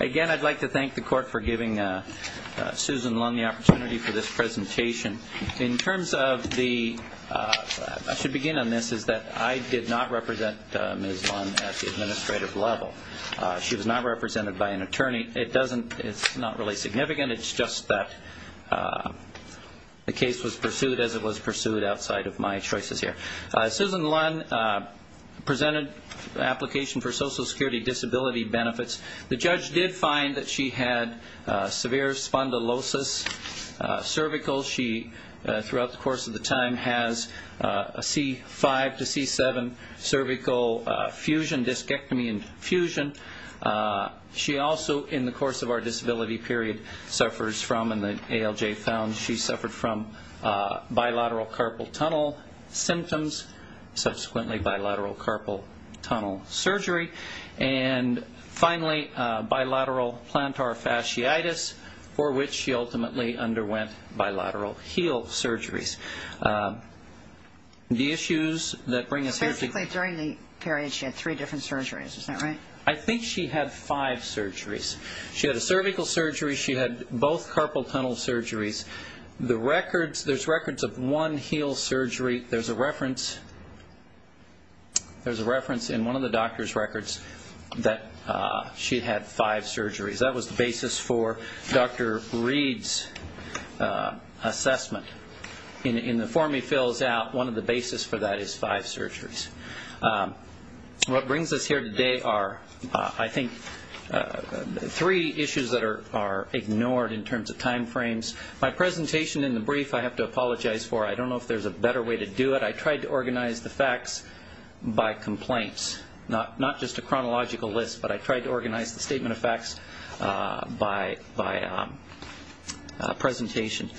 Again, I'd like to thank the court for giving Susan Lunn the opportunity for this presentation. In terms of the, I should begin on this, is that I did not represent Ms. Lunn at the administrative level. She was not represented by an attorney. It doesn't, it's not really significant. It's just that the case was pursued as it was pursued outside of my choices here. Susan Lunn presented an application for Social Security disability benefits. The judge did find that she had severe spondylosis cervical. She, throughout the course of the time, has a C5 to C7 cervical fusion, discectomy and fusion. She also, in the course of our disability period, suffers from, and the ALJ found, she suffered from bilateral carpal tunnel symptoms, subsequently bilateral carpal tunnel surgery, and finally bilateral plantar fasciitis, for which she ultimately underwent bilateral heel surgeries. The issues that bring us here to the court... Basically, during the period, she had three different surgeries. Is that right? I think she had five surgeries. She had a cervical surgery. She had both carpal tunnel surgeries. There's records of one heel surgery. There's a reference in one of the doctor's records that she had five surgeries. That was the basis for Dr. Reed's assessment. In the form he fills out, one of the basis for that is five surgeries. What brings us here today are, I think, three issues that are ignored in terms of time frames. My presentation in the brief, I have to apologize for. I don't know if there's a better way to do it. I tried to organize the facts by complaints, not just a chronological list, but I tried to organize the statement of facts by presentation.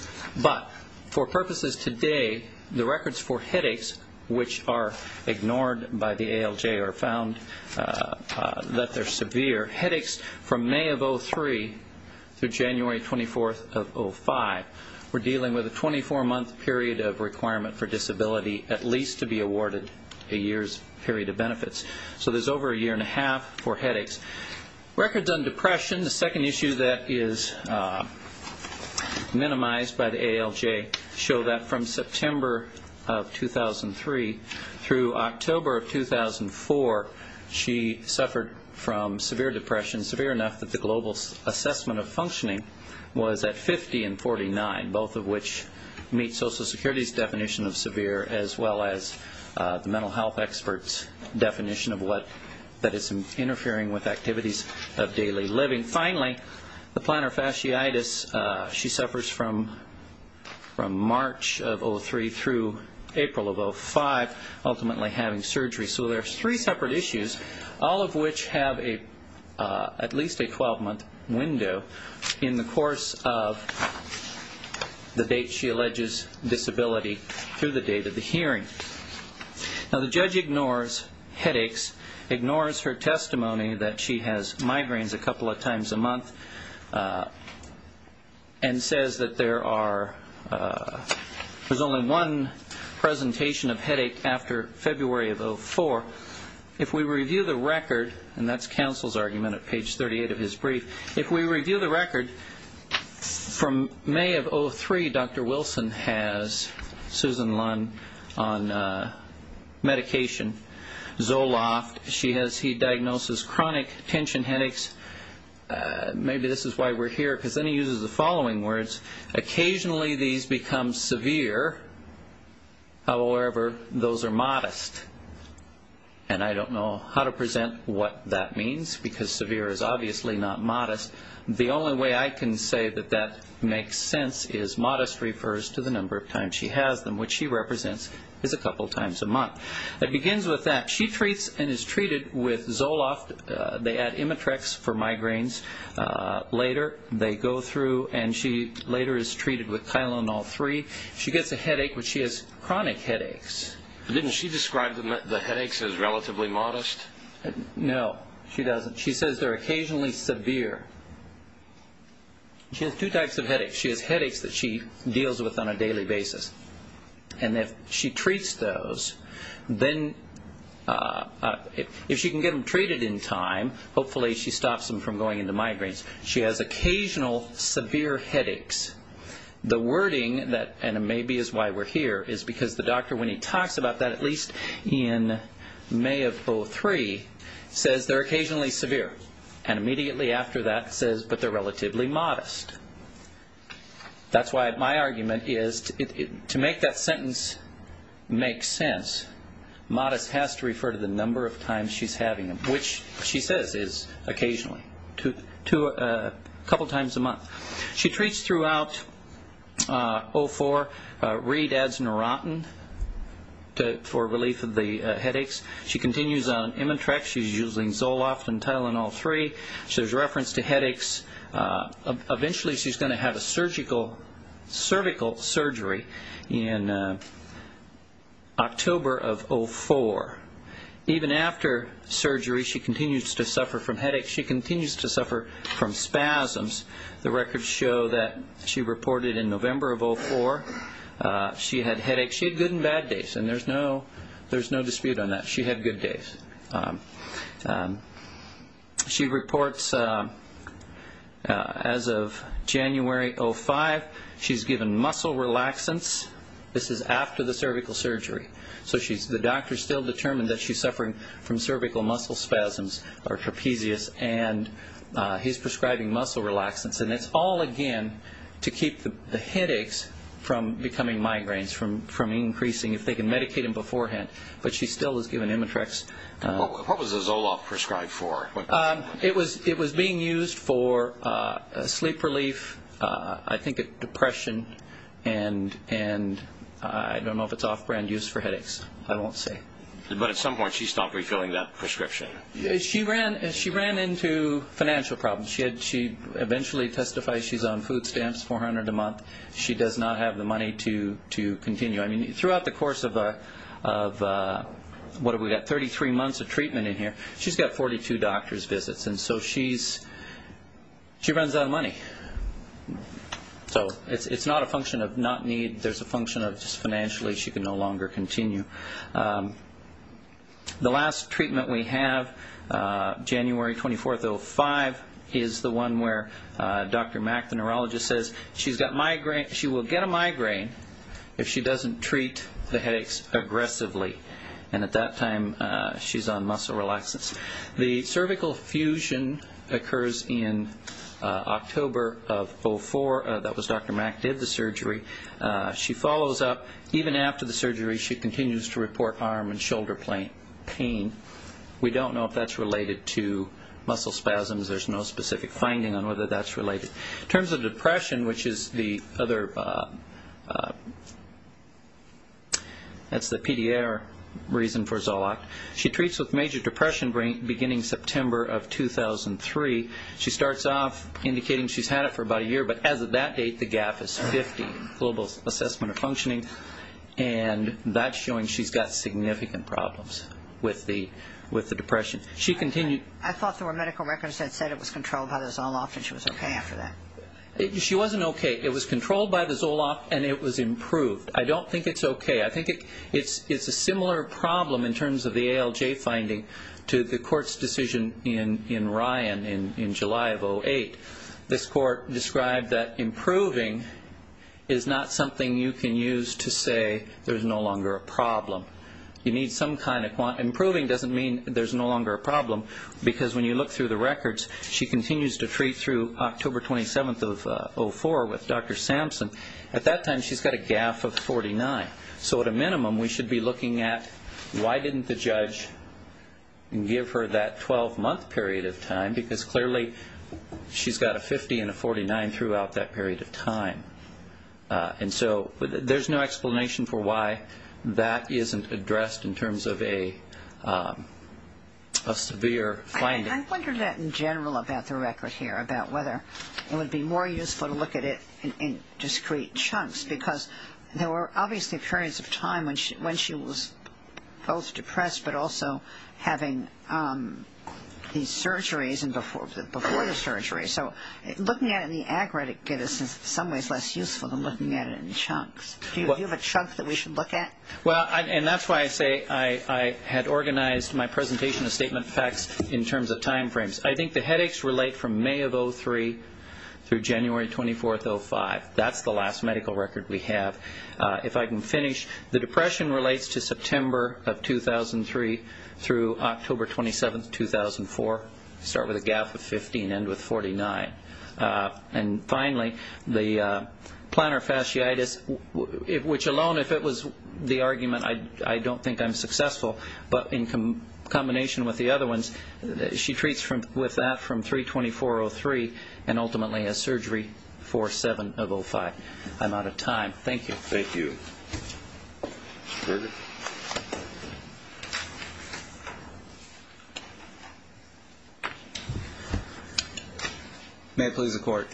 But, for purposes today, the records for headaches, which are ignored by the ALJ or found that they're severe, headaches from May of 2003 through January 24th of 2005, we're dealing with a 24-month period of requirement for disability, at least to be awarded a year's period of benefits. So there's over a year and a half for headaches. Records on depression, the second issue that is minimized by the November of 2003 through October of 2004, she suffered from severe depression, severe enough that the global assessment of functioning was at 50 and 49, both of which meet Social Security's definition of severe, as well as the mental health experts' definition of what is interfering with activities of daily living. Finally, the plantar fasciitis, she suffers from March of 2003 through April of 2005, ultimately having surgery. So there's three separate issues, all of which have at least a 12-month window in the course of the date she alleges disability through the date of the hearing. Now, the judge ignores headaches, ignores her testimony that she has migraines a couple of times a month, and says that there are, there's only one presentation of headache after February of 2004. If we review the record, and that's counsel's argument at page 38 of his brief, if we review the record, from May of 2003, Dr. Wilson has Susan Lunn on medication, Zoloft on medication, and she's been on medication Zoloft, she has, he diagnoses chronic tension headaches, maybe this is why we're here, because then he uses the following words, occasionally these become severe, however, those are modest. And I don't know how to present what that means, because severe is obviously not modest. The only way I can say that that makes sense is modest refers to the number of times she has them, which she represents as a couple of times a month. It begins with that she treats and is treated with Zoloft, they add Imitrex for migraines, later they go through, and she later is treated with Tylenol 3, she gets a headache, but she has chronic headaches. Didn't she describe the headaches as relatively modest? No, she doesn't. She says they're occasionally severe. She has two types of headaches. She has headaches that she deals with on a daily basis, and if she treats those, then she's going to, if she can get them treated in time, hopefully she stops them from going into migraines. She has occasional severe headaches. The wording that, and maybe it's why we're here, is because the doctor, when he talks about that, at least in May of 03, says they're occasionally severe, and immediately after that says, but they're relatively modest. That's why my argument is to make that sentence make sense, modest has to refer to the number of times she's having them, which she says is occasionally, a couple of times a month. She treats throughout 04, Reid adds Neurontin for relief of the headaches. She continues on Imitrex, she's using Zoloft and Tylenol 3. There's reference to headaches. Eventually she's going to have a surgical, cervical surgery in October of 04. Even after surgery, she continues to suffer from headaches. She continues to suffer from spasms. The records show that she reported in November of 04, she had headaches. She had good and bad days, and there's no dispute on that. She had good days. She reports, as of January 05, she's given muscle relaxants. This is after the cervical surgery. So the doctor still determined that she's suffering from cervical muscle spasms, or trapezius, and he's prescribing muscle relaxants. And it's all again to keep the headaches from becoming migraines, from increasing, if they can medicate them beforehand. But she still is giving Imitrex. What was the Zoloft prescribed for? It was being used for sleep relief, I think depression, and I don't know if it's off-brand use for headaches. I won't say. But at some point she stopped refilling that prescription. She ran into financial problems. She eventually testified she's on food stamps, $400 a month. She does not have the money to continue. Throughout the course of, what have we got, 33 months of treatment in here, she's got 42 doctor's visits. And so she runs out of money. So it's not a function of not need. There's a function of just financially she can no longer continue. The last treatment we have, January 24, 05, is the one where Dr. Mack, the neurologist, says she's got migraine, she will get a migraine if she doesn't treat the headaches aggressively. And at that time, she's on muscle relaxants. The cervical fusion occurs in October of 04. That was Dr. Mack did the surgery. She follows up. Even after the surgery, she continues to report arm and shoulder pain. We don't know if that's related to muscle spasms. There's no specific finding on whether that's related. In terms of depression, which is the other, that's the PDR reason for Zoloft, she treats with major depression beginning September of 2003. She starts off indicating she's had it for about a year. But as of that date, the gap is 50, global assessment of functioning. And that's showing she's got significant problems with the depression. She continued. I thought there were medical records that said it was controlled by Zoloft and she was okay after that. She wasn't okay. It was controlled by the Zoloft and it was improved. I don't think it's okay. I think it's a similar problem in terms of the ALJ finding to the court's decision in Ryan in July of 08. This court described that improving is not something you can use to say there's no longer a problem. You need some kind of, improving doesn't mean there's no longer a problem because when you look through the records, she continues to October 27th of 04 with Dr. Sampson. At that time, she's got a gap of 49. So at a minimum, we should be looking at why didn't the judge give her that 12-month period of time because clearly she's got a 50 and a 49 throughout that period of time. And so there's no explanation for why that isn't addressed in terms of a severe finding. I wonder that in general about the record here, about whether it would be more useful to look at it in discrete chunks because there were obviously periods of time when she was both depressed but also having these surgeries and before the surgery. So looking at it in the aggregate gives us in some ways less useful than looking at it in chunks. Do you have a chunk that we should look at? Well, and that's why I say I had organized my presentation of statement of facts in terms of time frames. I think the headaches relate from May of 03 through January 24th, 05. That's the last medical record we have. If I can finish, the depression relates to September of 2003 through October 27th, 2004. Start with a gap of 15, end with 49. And finally, the plantar fasciitis, which alone, if it was the argument, I don't think I'm successful. But in combination with the other ones, she treats with that from 03-24-03 and ultimately a surgery for 07 of 05. I'm out of time. Thank you. Thank you. Mr. Berger. May it please the court.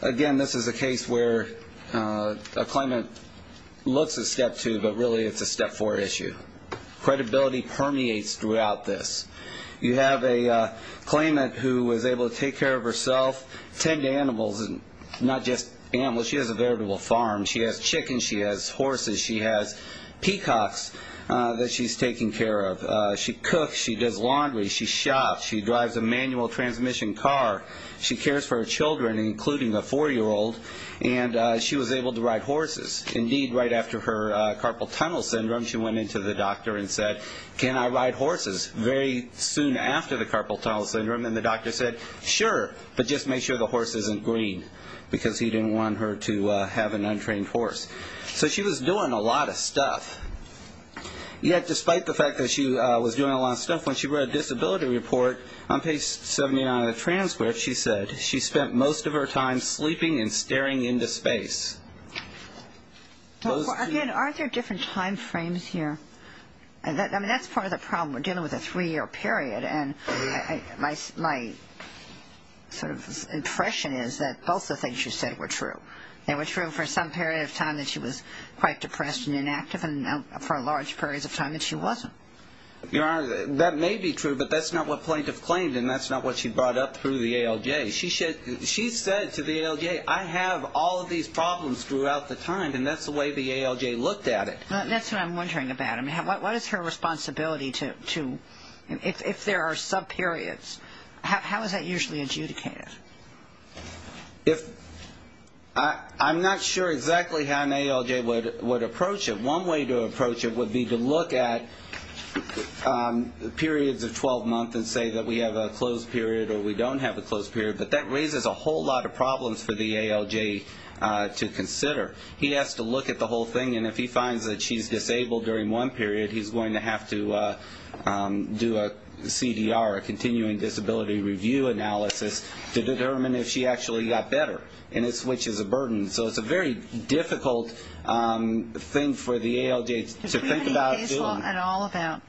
Again, this is a case where a claimant looks at step two, but really it's a step four issue. Credibility permeates throughout this. You have a claimant who was able to take care of herself, tend to animals, not just animals. She has a veritable family of horses. She has peacocks that she's taking care of. She cooks. She does laundry. She shops. She drives a manual transmission car. She cares for her children, including a four-year-old. And she was able to ride horses. Indeed, right after her carpal tunnel syndrome, she went into the doctor and said, can I ride horses? Very soon after the carpal tunnel syndrome, and the doctor said, sure, but just make sure the horse isn't green because he didn't want her to have an untrained horse. So she was doing a lot of stuff. Yet, despite the fact that she was doing a lot of stuff, when she read a disability report on page 79 of the transcript, she said she spent most of her time sleeping and staring into space. Again, aren't there different time frames here? I mean, that's part of the problem. We're dealing with a three-year period, and my sort of impression is that both the things you said were true. They were true for some period of time that she was quite depressed and inactive, and for large periods of time that she wasn't. Your Honor, that may be true, but that's not what plaintiff claimed, and that's not what she brought up through the ALJ. She said to the ALJ, I have all of these problems throughout the time, and that's the way the ALJ looked at it. That's what I'm wondering about. I mean, what is her responsibility to, if there are subperiods, how is that usually adjudicated? I'm not sure exactly how an ALJ would approach it. One way to approach it would be to look at periods of 12 months and say that we have a closed period or we don't have a closed period, but that raises a whole lot of problems for the ALJ to consider. He has to look at the whole thing, and if he finds that she's disabled during one period, he's going to have to do a CDR, a continuing disability review analysis, to determine if she actually got better, and it switches a burden. So it's a very difficult thing for the ALJ to think about doing. Does the ALJ know at all about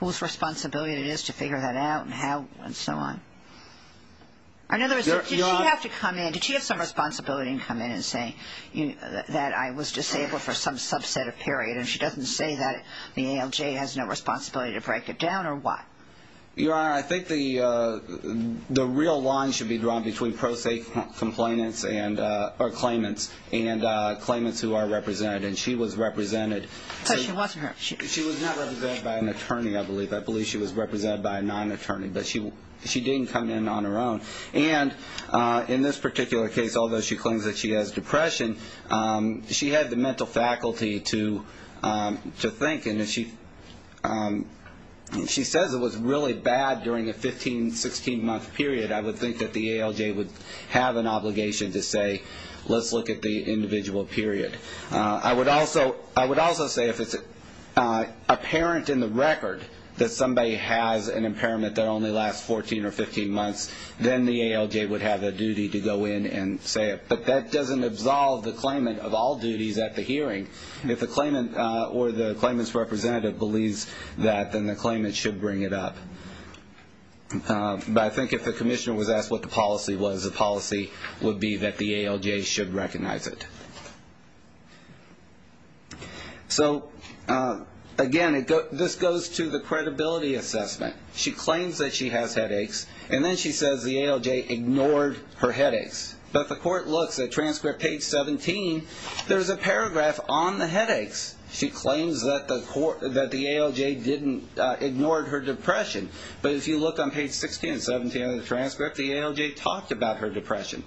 whose responsibility it is to figure that out and how and so on? In other words, did she have to come in, did she have some responsibility to come in and say that I was disabled for some subset of period, and she doesn't say that the ALJ has no responsibility to break it down, or what? Your Honor, I think the real line should be drawn between pro se claimants and claimants who are represented, and she was represented. So she wasn't her? She was not represented by an attorney, I believe. I believe she was represented by a non-attorney, but she didn't come in on her own. And in this particular case, although she claims that she has depression, she had the mental faculty to think, and if she says it was really bad during a 15, 16-month period, I would think that the ALJ would have an obligation to say, let's look at the individual period. I would also say if it's apparent in the record that somebody has an impairment that only lasts 14 or 15 months, then the ALJ would have a duty to go in and say it. But that doesn't absolve the claimant of all duties at the hearing. If the claimant or the claimant's representative believes that, then the claimant should bring it up. But I think if the commissioner was asked what the policy was, the policy would be that the ALJ should recognize it. So, again, this goes to the credibility assessment. She claims that she has headaches, and then she says the ALJ ignored her headaches. But the court looks at transcript page 17, there's a paragraph on the headaches. She claims that the ALJ ignored her depression. But if you look on page 16 and 17 of the transcript, the ALJ talked about her depression.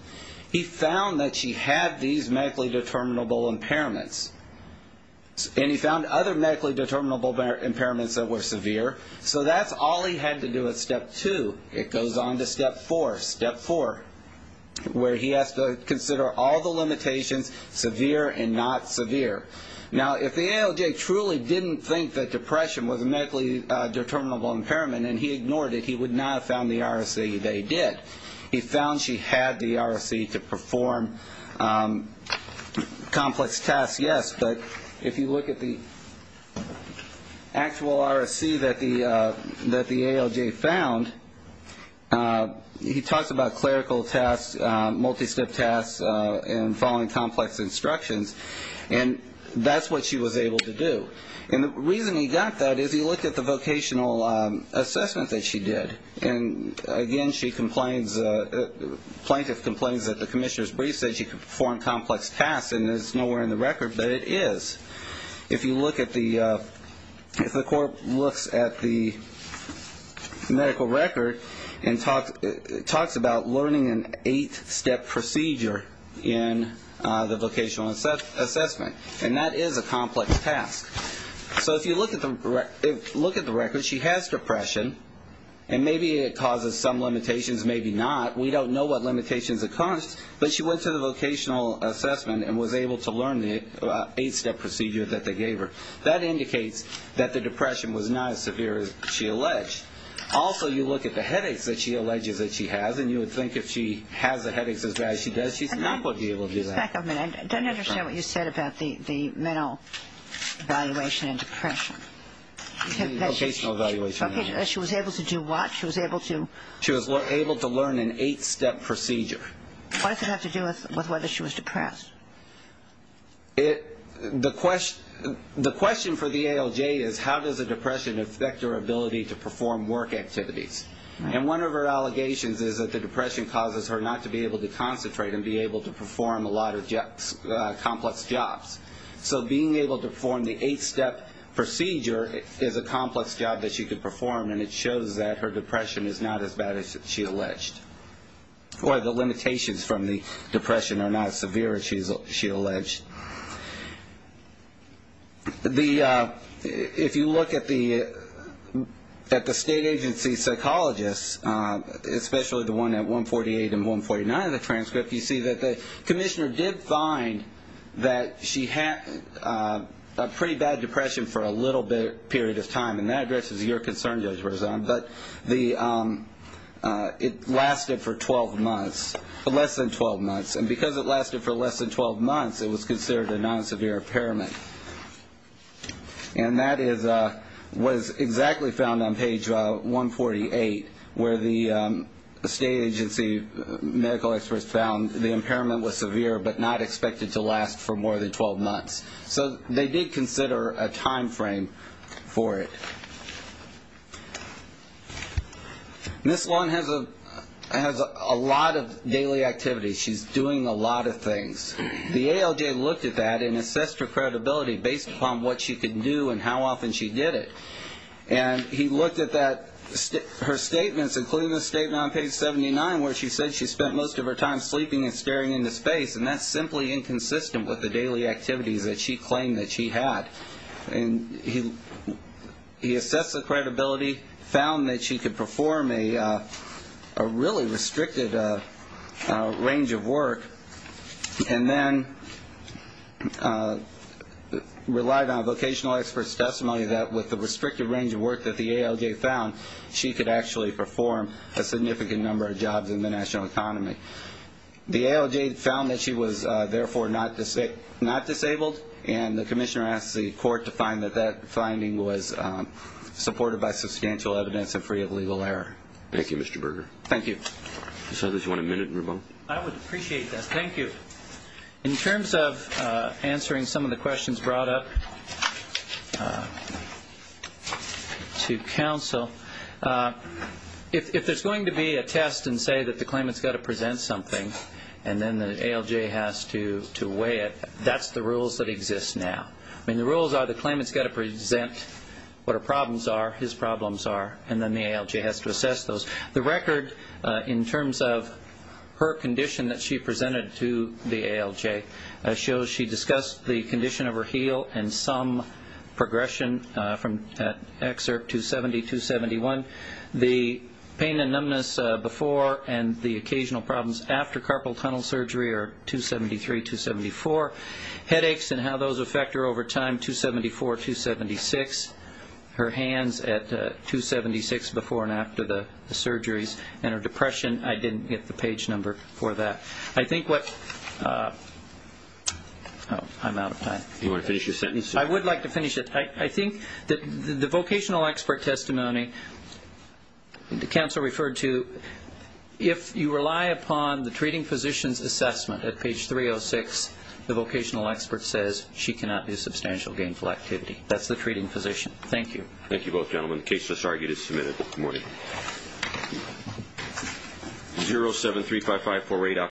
He found that she had these medically determinable impairments. And he found other medically determinable impairments that were severe. So that's all he had to do at step two. It goes on to step four, where he has to consider all the limitations, severe and not severe. Now if the ALJ truly didn't think that depression was a medically determinable impairment and he ignored it, he would not have found the RSC they did. He found she had the RSC to perform complex tasks, yes. But if you look at the actual RSC that the ALJ found, he talks about clerical tasks, multi-step tasks, and following complex instructions. And that's what she was able to do. And the reason he got that is he looked at the vocational assessment that she did. And again, she complains, the plaintiff complains that the commissioner's brief said she could perform complex tasks and it's nowhere in the record, but it is. If you look at the, if the court looks at the medical record and talks about learning an eight-step procedure in the vocational assessment, and that is a complex task. So if you look at the record, she has depression, and maybe it causes some limitations, maybe not. We don't know what limitations it caused, but she went to the vocational assessment and was able to learn the eight-step procedure that they gave her. That indicates that the depression was not as severe as she alleged. Also, you look at the headaches that she alleges that she has, and you would think if she has the headaches as bad as she does, she's not going to be able to do that. And back a minute. I don't understand what you said about the mental evaluation and depression. The vocational evaluation and depression. She was able to do what? She was able to? She was able to learn an eight-step procedure. What does it have to do with whether she was depressed? The question for the ALJ is how does a depression affect her ability to perform work activities? And one of her allegations is that the depression causes her not to be able to concentrate and be able to perform a lot of complex jobs. So being able to perform the eight-step procedure is a complex job that she could perform, and it shows that her depression is not as bad as she alleged, or the limitations from the depression are not as severe as she alleged. If you look at the state agency psychologists, especially the one at 148 and 149 of the transcript, you see that the commissioner did find that she had a pretty bad depression for a little period of time, and that addresses your concern, Judge Berzon, but it lasted for less than 12 months, which is considered a non-severe impairment. And that is what is exactly found on page 148, where the state agency medical experts found the impairment was severe but not expected to last for more than 12 months. So they did consider a time frame for it. Ms. Long has a lot of daily activities. She's doing a lot of things. The ALJ looked at that and assessed her credibility based upon what she could do and how often she did it, and he looked at that, her statements, including the statement on page 79 where she said she spent most of her time sleeping and staring into space, and that's simply inconsistent with the daily activities that she claimed that she had. And he assessed the credibility, found that she could perform a really restricted range of work, and then relied on vocational experts' testimony that with the restricted range of work that the ALJ found, she could actually perform a significant number of jobs in the national economy. The ALJ found that she was therefore not disabled, and the commissioner asked the court to find that that finding was supported by substantial evidence and free of legal error. Thank you, Mr. Berger. Thank you. Mr. Southers, do you want a minute in rebuttal? I would appreciate that. Thank you. In terms of answering some of the questions brought up to counsel, if there's going to be a test and say that the claimant's got to present something and then the ALJ has to weigh it, that's the rules that exist now. I mean, the rules are the claimant's got to present what her problems are, his problems are, and then the ALJ has to assess those. The record in terms of her condition that she presented to the ALJ shows she discussed the condition of her heel and some progression from that excerpt 270-271. The pain and numbness before and the occasional problems after carpal tunnel surgery are 273-274. Headaches and how those affect her over time, 274-276. Her hands at 276 before and after the surgeries and her depression, I didn't get the page number for that. I think what the vocational expert testimony, the counsel referred to, if you rely upon the treating physician's assessment at page 306, the vocational expert says she cannot do substantial gainful activity. That's the treating physician. Thank you. Thank you both gentlemen. The case is argued and submitted. Good morning.